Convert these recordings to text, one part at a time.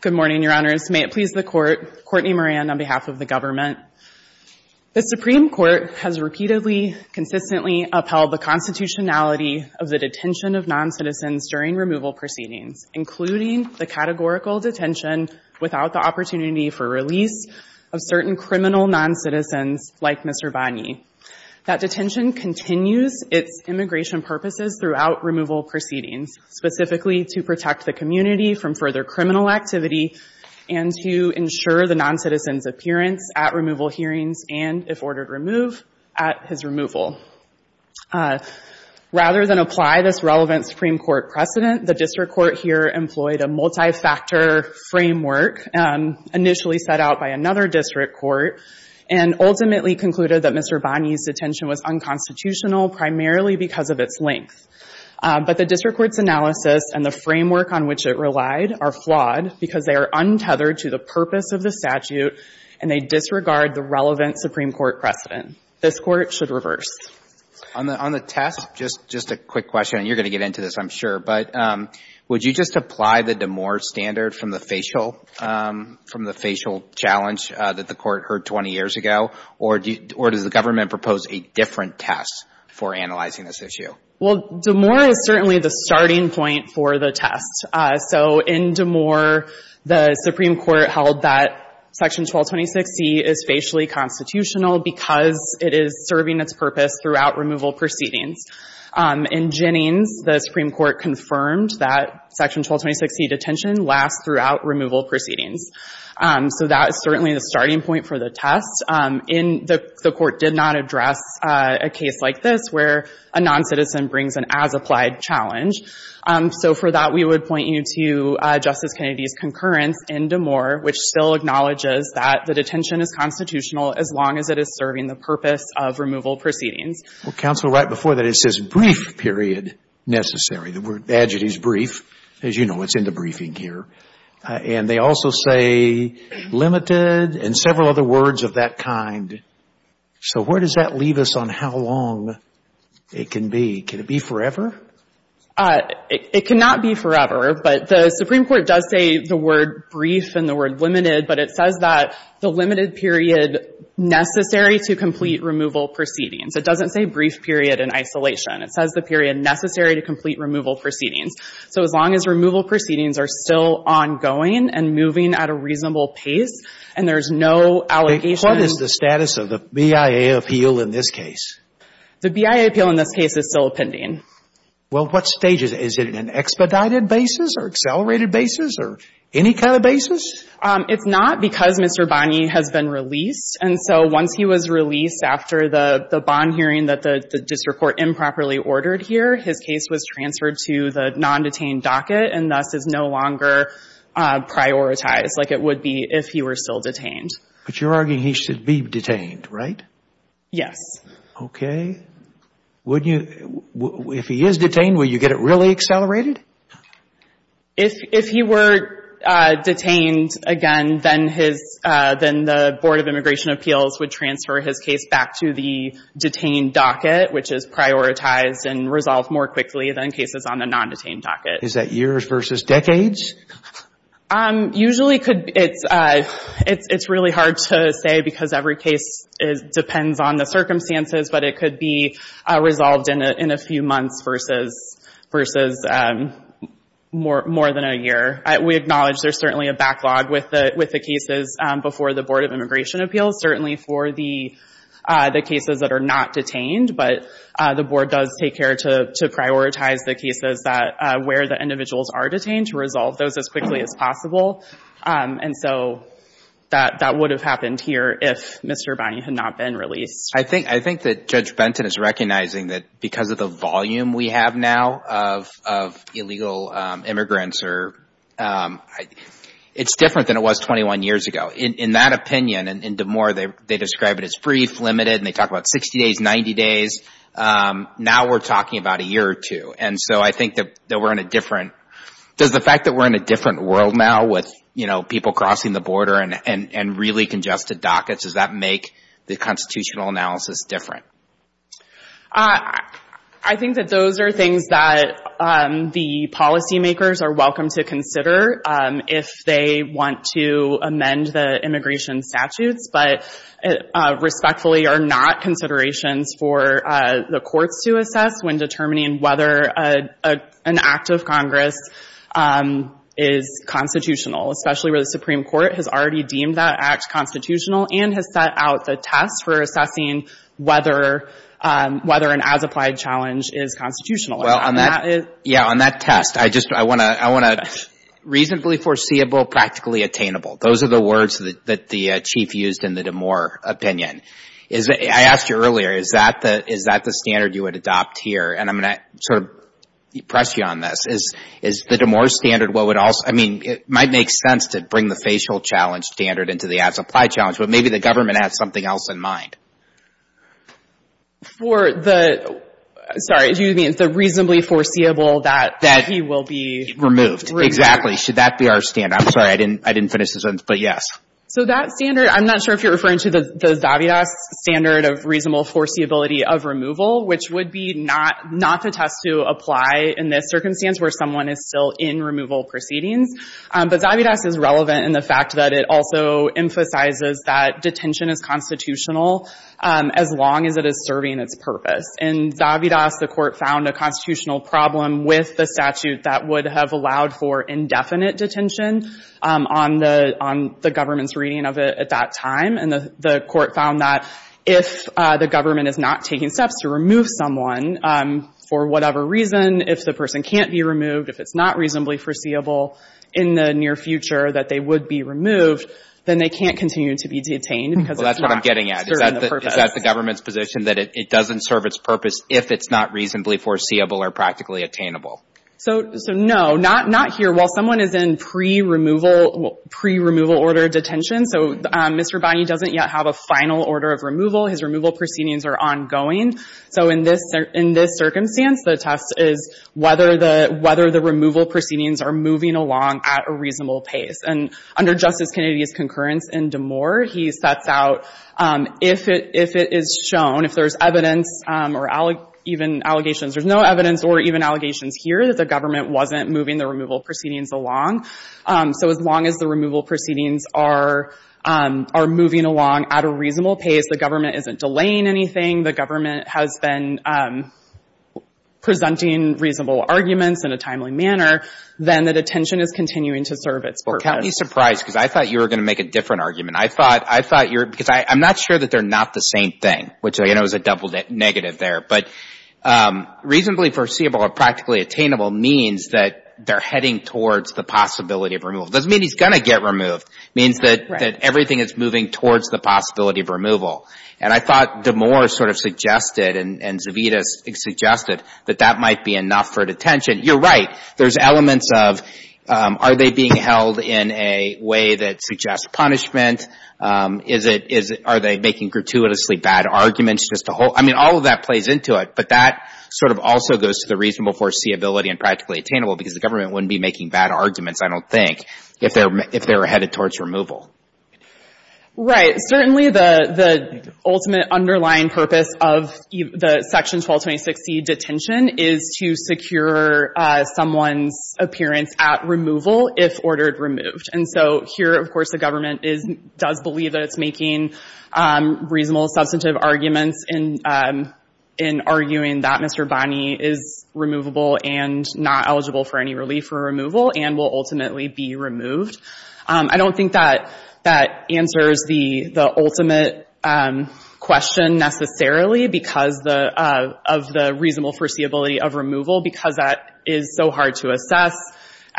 Good morning, Your Honors. May it please the Court, Courtney Moran on behalf of the government. The Supreme Court has repeatedly, consistently upheld the constitutionality of the detention of noncitizens during removal proceedings, including the categorical detention without the opportunity for release of certain criminal noncitizens like Mr. Banyee. That detention continues its immigration purposes throughout removal proceedings, specifically to protect the community from further criminal activity and to ensure the noncitizen's appearance at removal hearings and, if ordered to remove, at his removal. Rather than apply this relevant Supreme Court precedent, the district court here employed a multi-factor framework initially set out by another district court and ultimately concluded that Mr. Banyee's detention was unconstitutional primarily because of its length. But the district court's analysis and the framework on which it relied are flawed because they are untethered to the purpose of the statute and they disregard the relevant Supreme Court precedent. This Court should reverse. On the test, just a quick question, and you're going to get into this, I'm sure, but would you just apply the Damore standard from the facial challenge that the Court heard 20 years ago, or does the government propose a different test for analyzing this issue? Well, Damore is certainly the starting point for the test. So in Damore, the Supreme Court held that Section 1226C is facially constitutional because it is serving its purpose throughout removal proceedings. In Jennings, the Supreme Court confirmed that Section 1226C detention lasts throughout removal proceedings. So that is certainly the starting point for the test. In the Court did not address a case like this where a noncitizen brings an as-applied challenge. So for that, we would point you to Justice Kennedy's concurrence in Damore, which still acknowledges that the detention is constitutional as long as it is serving the purpose of removal proceedings. Well, Counsel, right before that, it says brief period necessary. The adjective is brief. As you know, it's in the briefing here. And they also say limited and several other words of that kind. So where does that leave us on how long it can be? Can it be forever? It cannot be forever, but the Supreme Court does say the word brief and the word limited, but it says that the limited period necessary to complete removal proceedings. It doesn't say brief period in isolation. It says the period necessary to complete removal proceedings. So as long as removal proceedings are still ongoing and moving at a reasonable pace and there's no allegation of the status of the BIA appeal in this case. The BIA appeal in this case is still pending. Well, what stage is it? Is it an expedited basis or accelerated basis or any kind of basis? It's not because Mr. Bonney has been released. And so once he was released after the bond hearing that the district court improperly ordered here, his case was transferred to the non-detained docket and thus is no longer prioritized like it would be if he were still detained. But you're arguing he should be detained, right? Yes. Okay. If he is detained, will you get it really accelerated? If he were detained, again, then the Board of Immigration Appeals would transfer his case back to the detained docket, which is prioritized and resolved more quickly than cases on the non-detained docket. Is that years versus decades? Usually it's really hard to say because every case depends on the circumstances, but it could be resolved in a few months versus more than a year. We acknowledge there's certainly a backlog with the cases before the Board of Immigration Appeals, certainly for the cases that are not detained. But the Board does take care to prioritize the cases where the individuals are detained to resolve those as quickly as possible. And so that would have happened here if Mr. Bonney had not been released. I think that Judge Benton is recognizing that because of the volume we have now of illegal immigrants, it's different than it was 21 years ago. In that opinion, and DeMoore, they describe it as brief, limited, and they talk about 60 days, 90 days. Now we're talking about a year or two. And so I think that we're in a different – does the fact that we're in a different world now with people crossing the border and really congested dockets, does that make the constitutional analysis different? I think that those are things that the policymakers are welcome to consider if they want to amend the immigration statutes, but respectfully are not considerations for the courts to assess when determining whether an act of Congress is constitutional, especially where the Supreme Court has a test for assessing whether an as-applied challenge is constitutional. Well, on that test, I want to – reasonably foreseeable, practically attainable. Those are the words that the Chief used in the DeMoore opinion. I asked you earlier, is that the standard you would adopt here? And I'm going to sort of press you on this. Is the DeMoore standard what would also – I mean, it might make sense to bring the facial challenge standard into the as-applied challenge, but maybe the government has something else in mind. For the – sorry, do you mean the reasonably foreseeable that he will be removed? Exactly. Should that be our standard? I'm sorry, I didn't finish the sentence, but yes. So that standard – I'm not sure if you're referring to the Zavidas standard of reasonable foreseeability of removal, which would be not the test to apply in this circumstance where someone is still in removal proceedings, but Zavidas is relevant in the fact that it also emphasizes that detention is constitutional as long as it is serving its purpose. In Zavidas, the court found a constitutional problem with the statute that would have allowed for indefinite detention on the government's reading of it at that time, and the court found that if the government is not taking steps to remove someone for whatever reason, if the person can't be removed, if it's not reasonably foreseeable in the near future that they would be removed, then they can't continue to be detained because it's not Well, that's what I'm getting at. Is that the government's position that it doesn't serve its purpose if it's not reasonably foreseeable or practically attainable? So no, not here. While someone is in pre-removal order detention, so Mr. Bonney doesn't yet have a final order of removal. His removal proceedings are ongoing. So in this circumstance, the test is whether the removal proceedings are moving along at a reasonable pace. And under Justice Kennedy's concurrence in D'Amour, he sets out if it is shown, if there's evidence or even allegations, there's no evidence or even allegations here that the government wasn't moving the removal proceedings along. So as long as the removal proceedings are moving along at a reasonable pace, the government isn't delaying anything, the government has been presenting reasonable arguments in a to serve its purpose. Well, count me surprised because I thought you were going to make a different argument. I thought, I thought you were, because I'm not sure that they're not the same thing, which I know is a double negative there, but reasonably foreseeable or practically attainable means that they're heading towards the possibility of removal. It doesn't mean he's going to get removed. It means that everything is moving towards the possibility of removal. And I thought D'Amour sort of suggested and Zavita suggested that that might be enough for detention. You're right. There's elements of, are they being held in a way that suggests punishment? Is it, are they making gratuitously bad arguments just to hold, I mean, all of that plays into it, but that sort of also goes to the reasonable foreseeability and practically attainable because the government wouldn't be making bad arguments, I don't think, if they're, if they were headed towards removal. Right. Certainly the, the ultimate underlying purpose of the Section 1226C detention is to secure someone's appearance at removal if ordered removed. And so here, of course, the government is, does believe that it's making reasonable substantive arguments in, in arguing that Mr. Bonney is removable and not eligible for any relief for removal and will ultimately be removed. I don't think that, that answers the, the ultimate question necessarily because the, of the reasonable foreseeability of removal, because that is so hard to assess.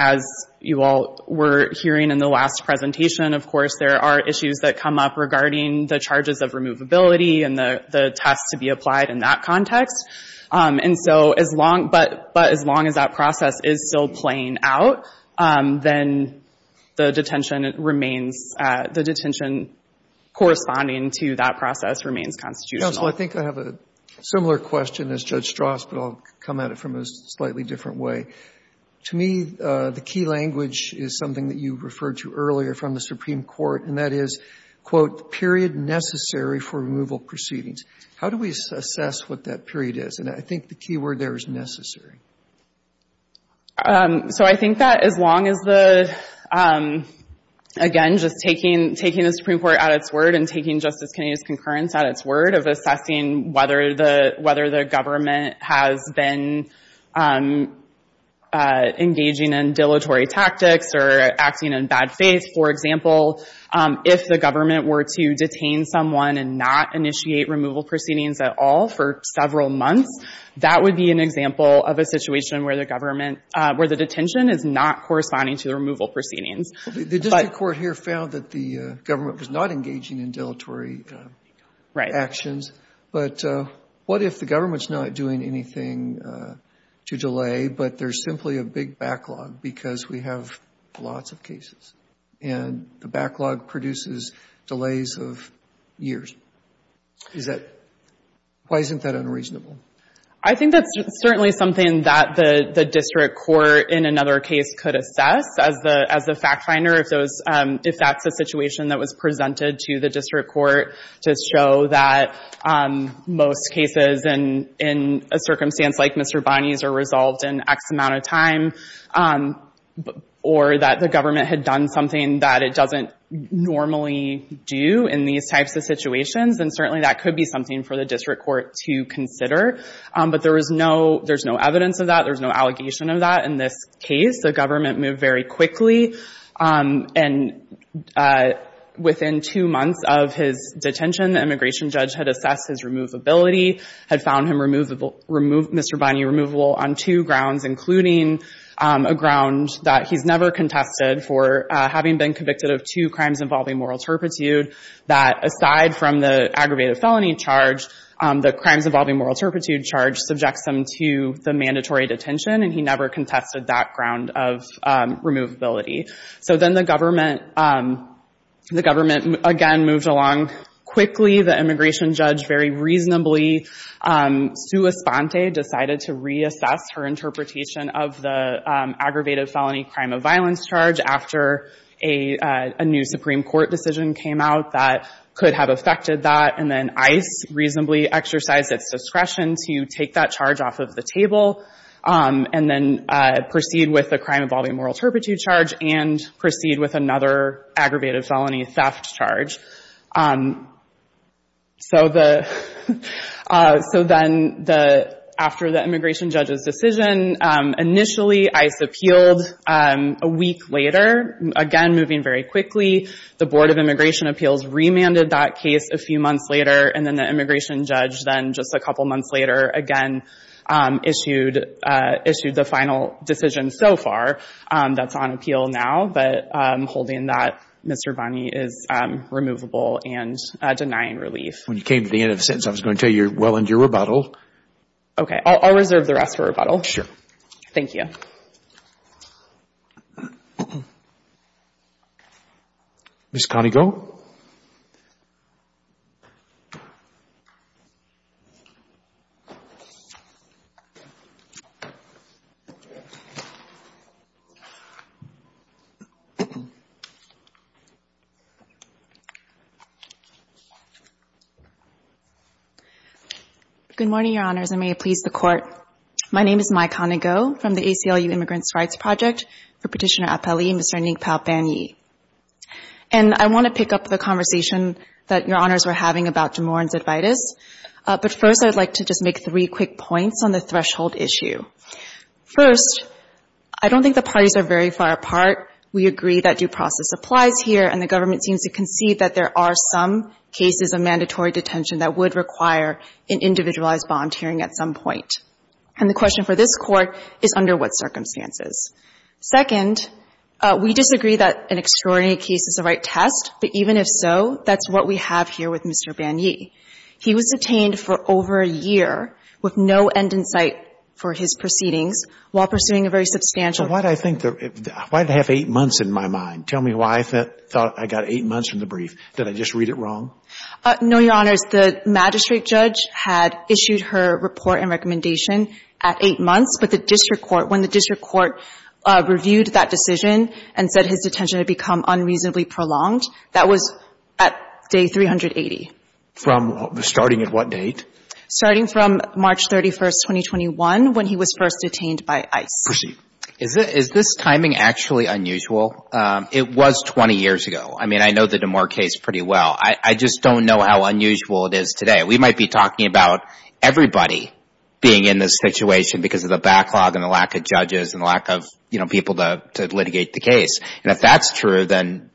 As you all were hearing in the last presentation, of course, there are issues that come up regarding the charges of removability and the, the test to be applied in that context. And so as long, but, but as long as that process is still playing out, then the detention remains, the detention corresponding to that process remains constitutional. Counsel, I think I have a similar question as Judge Stras, but I'll come at it from a slightly different way. To me, the key language is something that you referred to earlier from the Supreme Court, and that is, quote, the period necessary for removal proceedings. How do we assess what that period is? And I think the key word there is necessary. So I think that as long as the, again, just taking, taking the Supreme Court at its word and taking Justice Kennedy's concurrence at its word of assessing whether the, whether the government has been engaging in dilatory tactics or acting in bad faith. For example, if the government were to detain someone and not initiate removal proceedings at all for several months, that would be an example of a situation where the government, where the detention is not corresponding to the removal proceedings. The district court here found that the government was not engaging in dilatory actions, but what if the government's not doing anything to delay, but there's simply a big backlog because we have lots of cases, and the backlog produces delays of years? Is that, why isn't that unreasonable? I think that's certainly something that the, the district court in another case could assess as the, as the fact finder if those, if that's a situation that was presented to the district court to show that most cases in, in a circumstance like Mr. Bonney's are resolved in X amount of time or that the government had done something that it doesn't normally do in these types of situations, then certainly that could be something for the district court to consider. But there is no, there's no evidence of that, there's no allegation of that in this case. The government moved very quickly and within two months of his detention, the immigration judge had assessed his removability, had found him removable, Mr. Bonney removable on two grounds, including a ground that he's never contested for having been convicted of two crimes involving moral turpitude, that aside from the aggravated felony charge, the crimes involving moral turpitude charge subjects him to the mandatory detention, and he never contested that ground of removability. So then the government, the government again moved along quickly, the immigration judge very reasonably, Sua Sponte decided to reassess her interpretation of the aggravated felony crime of violence charge after a, a new Supreme Court decision came out that could have affected that, and then ICE reasonably exercised its discretion to take that charge off of the table and then proceed with the crime involving moral turpitude charge and proceed with another aggravated felony theft charge. So the, so then the, after the immigration judge's decision, initially ICE appealed a week later, again moving very quickly, the Board of Immigration Appeals remanded that case a few months later, and then the immigration judge then just a couple months later again issued, issued the final decision so far that's on appeal now, but holding that Mr. Bonney is removable and denying relief. When you came to the end of the sentence, I was going to tell you, well end your rebuttal. Okay, I'll, I'll reserve the rest for rebuttal. Sure. Thank you. Ms. Conigal? Good morning, Your Honors, and may it please the Court. My name is Mai Conigal from the ACLU Immigrants' Rights Project for Petitioner Appellee Mr. Anikpao Banyi. And I want to pick up the conversation that Your Honors were having about DeMorin's Advaitis, but first I would like to just make three quick points on the threshold issue. First, I don't think the parties are very far apart. We agree that due process applies here, and the government seems to concede that there are some cases of mandatory detention that would require an individualized volunteering at some point. And the question for this Court is under what circumstances. Second, we disagree that an extraordinary case is the right test, but even if so, that's what we have here with Mr. Banyi. He was detained for over a year with no end in sight for his proceedings while pursuing a very substantial – So why do I think – why do I have eight months in my mind? Tell me why I thought I got eight months from the brief. Did I just read it wrong? No, Your Honors. The magistrate judge had issued her report and recommendation at eight months, but the district court – when the district court reviewed that decision and said his detention had become unreasonably prolonged, that was at day 380. From – starting at what date? Starting from March 31st, 2021, when he was first detained by ICE. Proceed. Is this timing actually unusual? It was 20 years ago. I mean, I know the Damore case pretty well. I just don't know how unusual it is today. We might be talking about everybody being in this situation because of the backlog and the lack of judges and the lack of, you know, people to litigate the case. And if that's true, then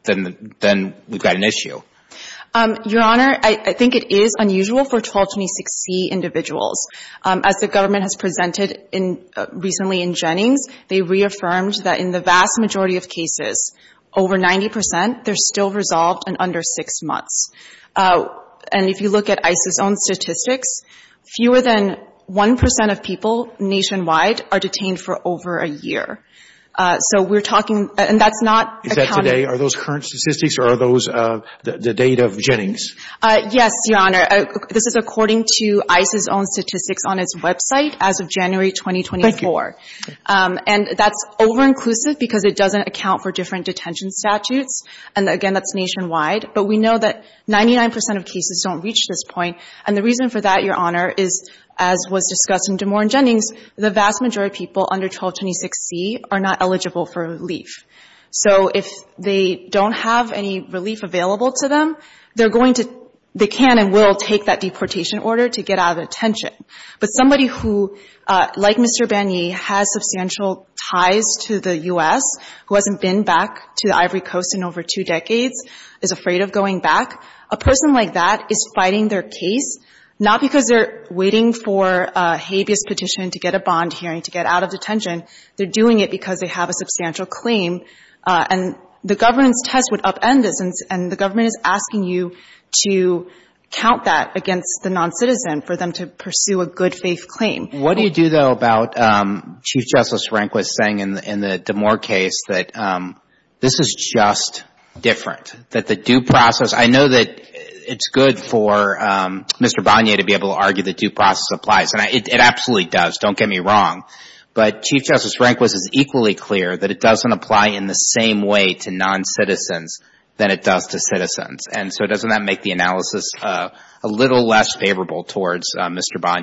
we've got an issue. Your Honor, I think it is unusual for 1226C individuals. As the government has presented in – recently in Jennings, they reaffirmed that in the vast majority of cases, over 90 percent, they're still resolved in under six months. And if you look at ICE's own statistics, fewer than 1 percent of people nationwide are detained for over a year. So we're talking – and that's not – Is that today? Are those current statistics or are those the date of Jennings? Yes, Your Honor. This is according to ICE's own statistics on its website as of January 2024. Thank you. And that's over-inclusive because it doesn't account for different detention statutes. And again, that's nationwide. But we know that 99 percent of cases don't reach this point. And the reason for that, Your Honor, is, as was discussed in Damore and Jennings, the vast majority of people under 1226C are not eligible for relief. So if they don't have any relief available to them, they're going to – they can and will take that deportation order to get out of detention. But somebody who, like Mr. Banyee, has substantial ties to the U.S., who hasn't been back to the Ivory Coast in over two decades, is afraid of going back, a person like that is fighting their case not because they're waiting for a habeas petition to get a bond hearing to get out of detention. They're doing it because they have a substantial claim. And the governance test would upend this. And the government is asking you to count that against the noncitizen for them to pursue a good-faith claim. What do you do, though, about Chief Justice Rehnquist saying in the Damore case that this is just different, that the due process – I know that it's good for Mr. Banyee to be able to argue the due process applies. And it absolutely does. Don't get me wrong. But Chief Justice Rehnquist is equally clear that it doesn't apply in the same way to noncitizens than it does to citizens. And so doesn't that make the analysis a little less favorable towards Mr. Banyee?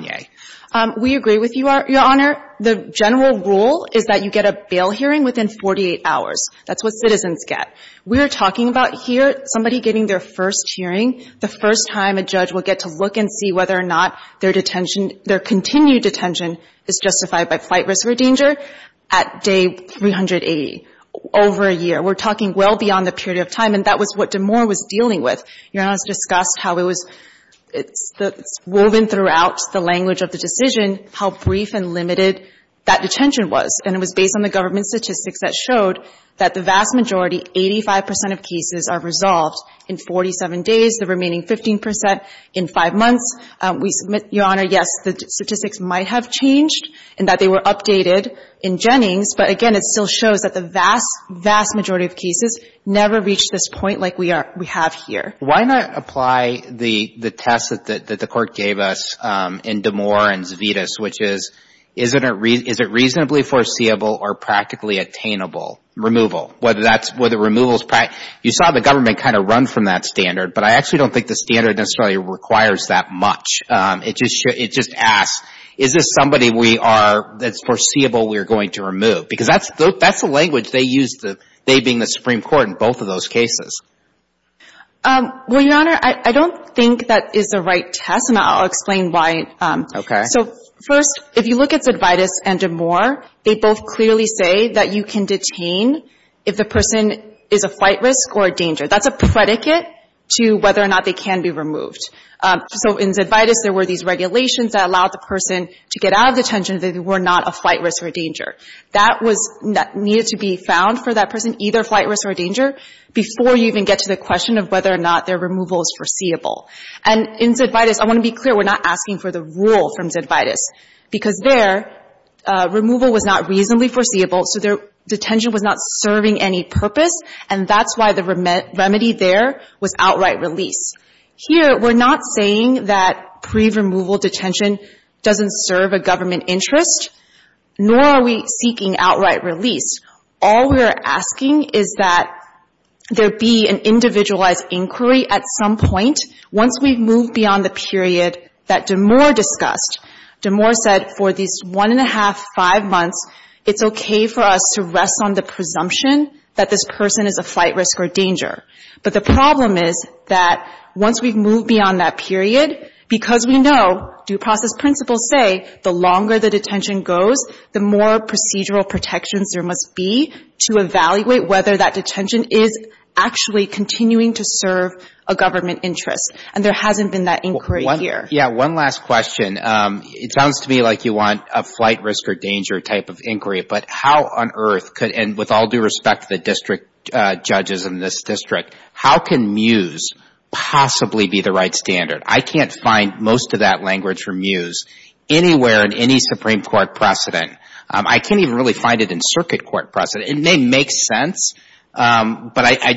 MS. REHNQUIST We agree with you, Your Honor. The general rule is that you get a bail hearing within 48 hours. That's what citizens get. We're talking about here somebody getting their first hearing, the first time a judge will get to look and see whether or not their detention – their continued detention is justified by flight risk or danger at day 380, over a year. We're talking well beyond the period of time. And that was what Damore was dealing with. Your Honor, it was discussed how it was – it's woven throughout the language of the decision how brief and limited that detention was. And it was based on the government statistics that showed that the vast majority, 85 percent of cases, are resolved in 47 days, the remaining 15 percent in five months. We submit, Your Honor, yes, the statistics might have changed and that they were updated in Jennings. But again, it still shows that the vast, vast majority of cases never reached this point like we are – we have here. MR. REHNQUIST Why not apply the test that the Court gave us in Damore and Zvitas, which is, is it reasonably foreseeable or practically attainable removal? Whether that's – whether removal is – you saw the government kind of run from that It just – it just asks, is this somebody we are – that's foreseeable we are going to remove? Because that's – that's the language they used, they being the Supreme Court in MS. GONZALEZ Well, Your Honor, I don't think that is the right test, and I'll explain MR. REHNQUIST Okay. MS. GONZALEZ So first, if you look at Zvitas and Damore, they both clearly say that you can detain if the person is a flight risk or a danger. That's a predicate to whether or not they can be removed. So in Zvitas, there were these regulations that allowed the person to get out of detention if they were not a flight risk or a danger. That was – needed to be found for that person, either flight risk or a danger, before you even get to the question of whether or not their removal is foreseeable. And in Zvitas, I want to be clear, we're not asking for the rule from Zvitas, because their removal was not reasonably foreseeable, so their detention was not serving any purpose, and that's why the remedy there was outright release. Here, we're not saying that pre-removal detention doesn't serve a government interest, nor are we seeking outright release. All we are asking is that there be an individualized inquiry at some point, once we've moved beyond the period that Damore discussed. Damore said for these one and a half, five months, it's okay for us to rest on the presumption that this person is a flight risk or danger. But the problem is that once we've moved beyond that period, because we know due process principles say the longer the detention goes, the more procedural protections there must be to evaluate whether that detention is actually continuing to serve a government interest, and there hasn't been that inquiry here. Yeah. One last question. It sounds to me like you want a flight risk or danger type of inquiry, but how on earth and with all due respect to the district judges in this district, how can MUSE possibly be the right standard? I can't find most of that language for MUSE anywhere in any Supreme Court precedent. I can't even really find it in circuit court precedent. It may make sense, but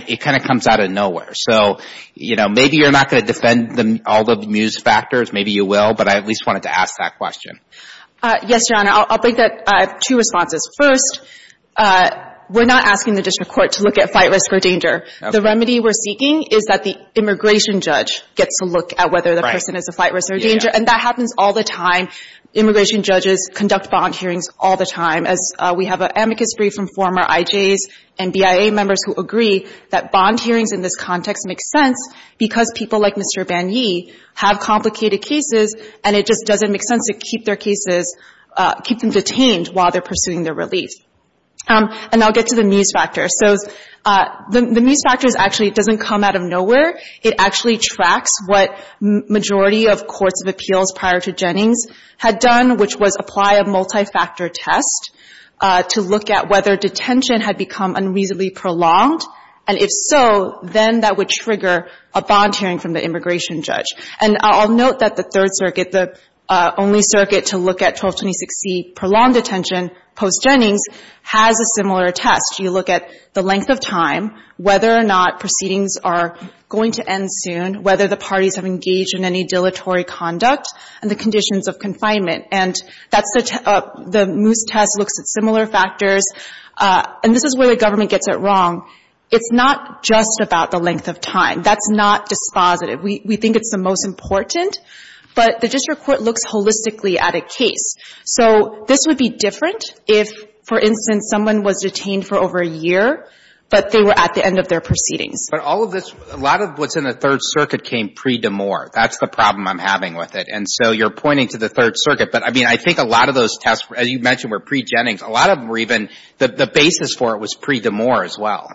it kind of comes out of nowhere. So, you know, maybe you're not going to defend all the MUSE factors, maybe you will, but I at least wanted to ask that question. Yes, John, I'll break that. I have two responses. First, we're not asking the district court to look at flight risk or danger. The remedy we're seeking is that the immigration judge gets to look at whether the person has a flight risk or danger, and that happens all the time. Immigration judges conduct bond hearings all the time, as we have an amicus brief from former IJs and BIA members who agree that bond hearings in this context make sense because people like Mr. Banyi have complicated cases and it just doesn't make sense to keep their cases, keep them detained while they're pursuing their relief. And I'll get to the MUSE factor. So the MUSE factor actually doesn't come out of nowhere. It actually tracks what majority of courts of appeals prior to Jennings had done, which was apply a multi-factor test to look at whether detention had become unreasonably prolonged, and if so, then that would trigger a bond hearing from the immigration judge. And I'll note that the Third Circuit, the only circuit to look at 1226C prolonged detention post-Jennings, has a similar test. You look at the length of time, whether or not proceedings are going to end soon, whether the parties have engaged in any dilatory conduct, and the conditions of confinement, and that's the — the MUSE test looks at similar factors. And this is where the government gets it wrong. It's not just about the length of time. That's not dispositive. We think it's the most important. But the district court looks holistically at a case. So this would be different if, for instance, someone was detained for over a year, but they were at the end of their proceedings. But all of this — a lot of what's in the Third Circuit came pre-Demore. That's the problem I'm having with it. And so you're pointing to the Third Circuit, but I mean, I think a lot of those tests, as you mentioned, were pre-Jennings. A lot of them were even — the basis for it was pre-Demore as well.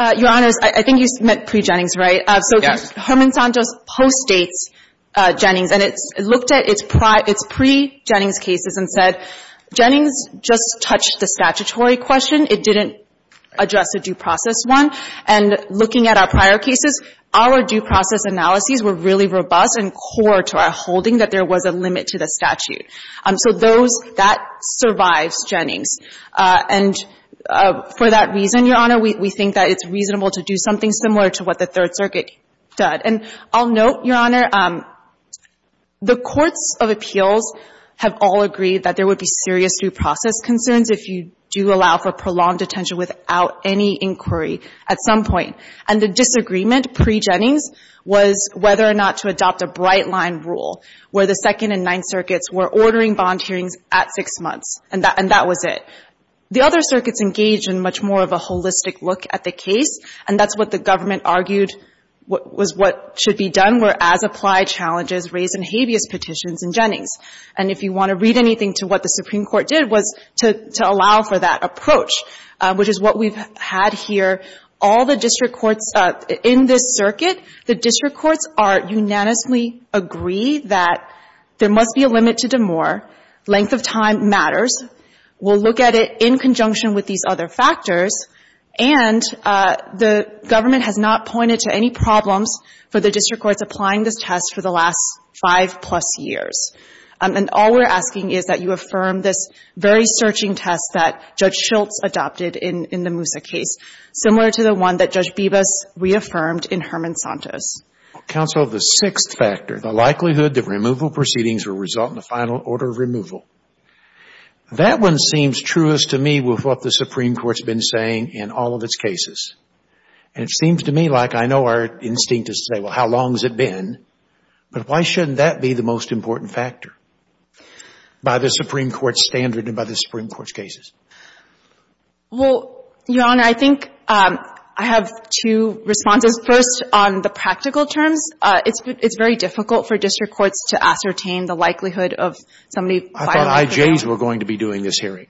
Your Honor, I think you meant pre-Jennings, right? Yes. Herman Santos postdates Jennings. And it looked at its — its pre-Jennings cases and said, Jennings just touched the statutory question. It didn't address a due process one. And looking at our prior cases, our due process analyses were really robust and core to our holding that there was a limit to the statute. So those — that survives Jennings. And for that reason, Your Honor, we think that it's reasonable to do something similar to what the Third Circuit did. And I'll note, Your Honor, the courts of appeals have all agreed that there would be serious due process concerns if you do allow for prolonged detention without any inquiry at some point. And the disagreement pre-Jennings was whether or not to adopt a bright-line rule where the Second and Ninth Circuits were ordering bond hearings at six months. And that — and that was it. The other circuits engaged in much more of a holistic look at the case. And that's what the government argued was what should be done were as-applied challenges raised in habeas petitions in Jennings. And if you want to read anything to what the Supreme Court did was to — to allow for that approach, which is what we've had here. All the district courts — in this circuit, the district courts are — unanimously agree that there must be a limit to DeMoor. Length of time matters. We'll look at it in conjunction with these other factors. And the government has not pointed to any problems for the district courts applying this test for the last five-plus years. And all we're asking is that you affirm this very searching test that Judge Schultz adopted in — in the Moussa case, similar to the one that Judge Bibas reaffirmed in Herman Santos. Scalia. Counsel, the sixth factor, the likelihood that removal proceedings will result in a final order of removal, that one seems truest to me with what the Supreme Court's been saying in all of its cases. And it seems to me like I know our instinct is to say, well, how long has it been? But why shouldn't that be the most important factor by the Supreme Court's standard and by the Supreme Court's cases? Well, Your Honor, I think I have two responses. First, on the practical terms, it's — it's very difficult for district courts to ascertain the likelihood of somebody filing — I thought IJs were going to be doing this hearing.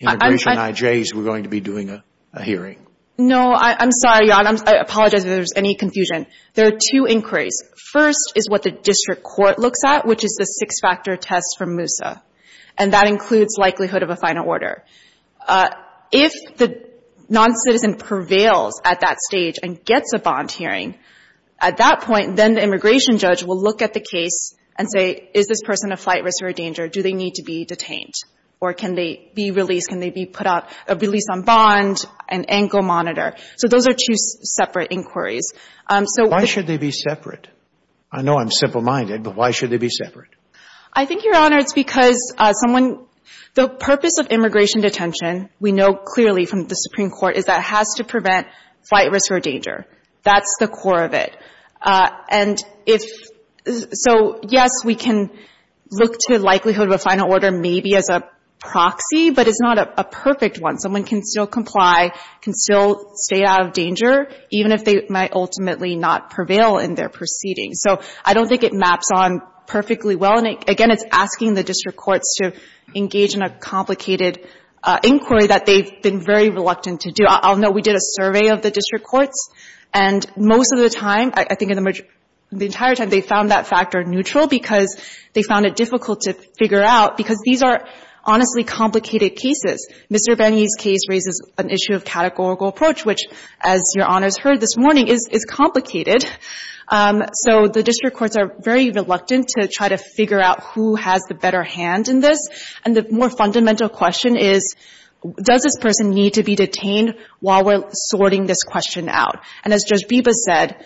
Immigration IJs were going to be doing a hearing. No, I'm sorry, Your Honor. I apologize if there's any confusion. There are two inquiries. First is what the district court looks at, which is the six-factor test for Moussa. And that includes likelihood of a final order. If the noncitizen prevails at that stage and gets a bond hearing, at that point, then the immigration judge will look at the case and say, is this person a flight risk or a danger? Do they need to be detained? Or can they be released? Can they be put out — released on bond, an ankle monitor? So those are two separate inquiries. So — Why should they be separate? I know I'm simple-minded, but why should they be separate? I think, Your Honor, it's because someone — the purpose of immigration detention, we know clearly from the Supreme Court, is that it has to prevent flight risk or danger. That's the core of it. And if — so, yes, we can look to likelihood of a final order, maybe as a proxy, but it's not a perfect one. Someone can still comply, can still stay out of danger, even if they might ultimately not prevail in their proceedings. So I don't think it maps on perfectly well. And again, it's asking the district courts to engage in a complicated inquiry that they've been very reluctant to do. I'll note we did a survey of the district courts. And most of the time, I think in the majority — the entire time, they found that factor neutral because they found it difficult to figure out, because these are honestly complicated cases. Mr. Benney's case raises an issue of categorical approach, which, as Your Honor's heard this morning, is complicated. So the district courts are very reluctant to try to figure out who has the better hand in this. And the more fundamental question is, does this person need to be detained while we're And as Judge Biba said,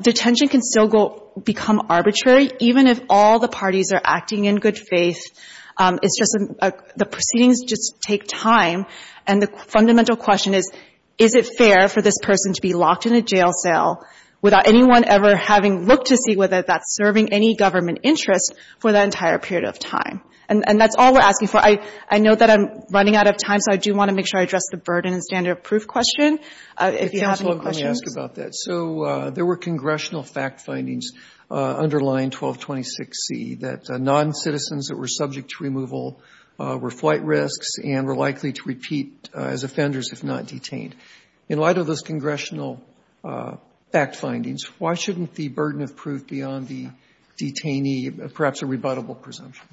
detention can still go — become arbitrary, even if all the parties are acting in good faith. It's just — the proceedings just take time. And the fundamental question is, is it fair for this person to be locked in a jail cell without anyone ever having looked to see whether that's serving any government interest for that entire period of time? And that's all we're asking for. I know that I'm running out of time, so I do want to make sure I address the burden and standard of proof question. If you have any questions. Roberts, let me ask you about that. So there were congressional fact findings underlying 1226C that noncitizens that were subject to removal were flight risks and were likely to repeat as offenders if not detained. In light of those congressional fact findings, why shouldn't the burden of proof be on the detainee, perhaps a rebuttable presumption?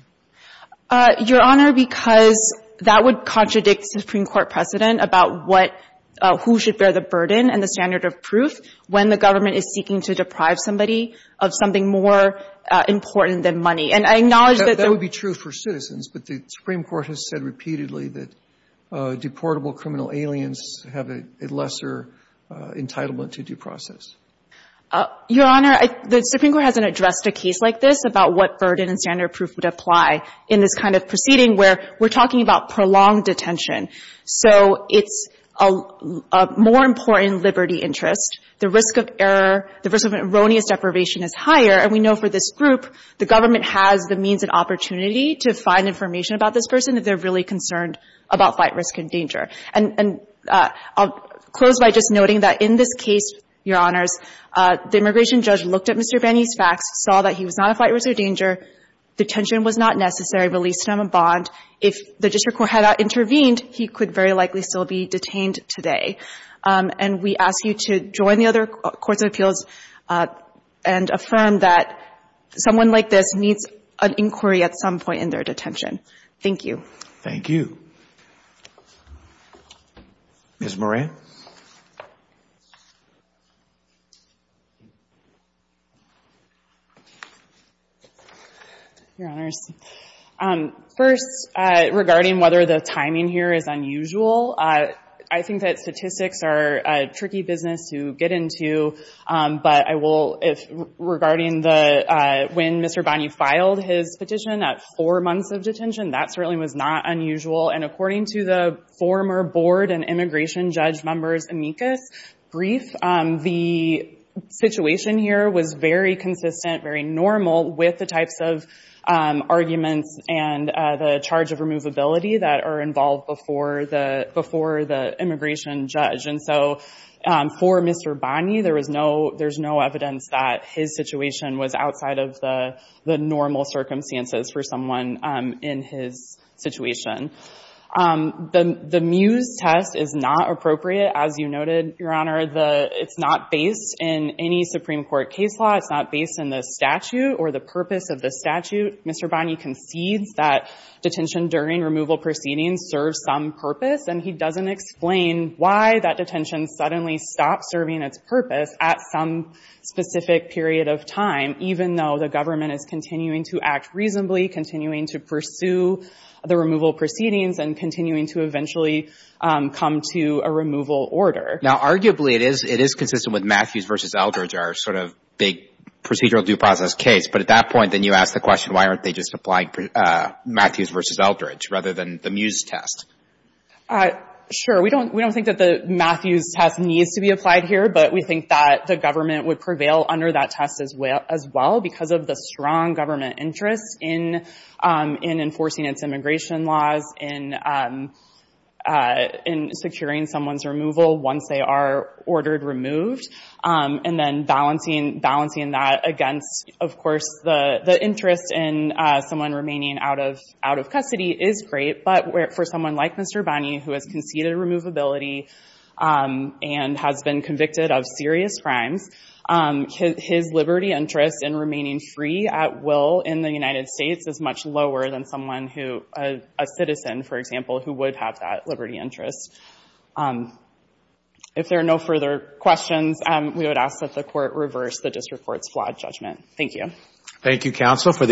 Your Honor, because that would contradict the Supreme Court precedent about what who should bear the burden and the standard of proof when the government is seeking to deprive somebody of something more important than money. And I acknowledge that — That would be true for citizens, but the Supreme Court has said repeatedly that deportable criminal aliens have a lesser entitlement to due process. Your Honor, the Supreme Court hasn't addressed a case like this about what burden and standard of proof would apply in this kind of proceeding where we're talking about prolonged detention. So it's a more important liberty interest. The risk of error — the risk of erroneous deprivation is higher. And we know for this group, the government has the means and opportunity to find information about this person if they're really concerned about flight risk and danger. And I'll close by just noting that in this case, Your Honors, the immigration judge looked at Mr. Benny's facts, saw that he was not a flight risk or danger, detention was not necessary, released him in bond. If the district court had not intervened, he could very likely still be detained today. And we ask you to join the other courts of appeals and affirm that someone like this needs an inquiry at some point in their detention. Thank you. Thank you. Ms. Moran. Your Honors. First, regarding whether the timing here is unusual, I think that statistics are a tricky business to get into. But I will — regarding the — when Mr. Benny filed his petition at four months of detention, that certainly was not unusual. And according to the former board and immigration judge members' amicus brief, the and the charge of removability that are involved before the immigration judge. And so for Mr. Benny, there was no — there's no evidence that his situation was outside of the normal circumstances for someone in his situation. The MUSE test is not appropriate, as you noted, Your Honor. The — it's not based in any Supreme Court case law. It's not based in the statute or the purpose of the statute. Mr. Benny concedes that detention during removal proceedings serve some purpose, and he doesn't explain why that detention suddenly stopped serving its purpose at some specific period of time, even though the government is continuing to act reasonably, continuing to pursue the removal proceedings, and continuing to eventually come to a removal order. Now, arguably, it is — it is consistent with Matthews v. Eldridge, our sort of big procedural due process case. But at that point, then you ask the question, why aren't they just applying Matthews v. Eldridge rather than the MUSE test? BENNY BENNETT Sure. We don't — we don't think that the Matthews test needs to be applied here, but we think that the government would prevail under that test as well because of the strong government interest in enforcing its immigration laws, in securing someone's removal once they are released. The interest in someone remaining out of custody is great, but for someone like Mr. Benny, who has conceded removability and has been convicted of serious crimes, his liberty interest in remaining free at will in the United States is much lower than someone who — a citizen, for example, who would have that liberty interest. If there are no further questions, we would ask that the Court reverse the district court's flawed judgment. Thank you. Thank you, counsel, for the —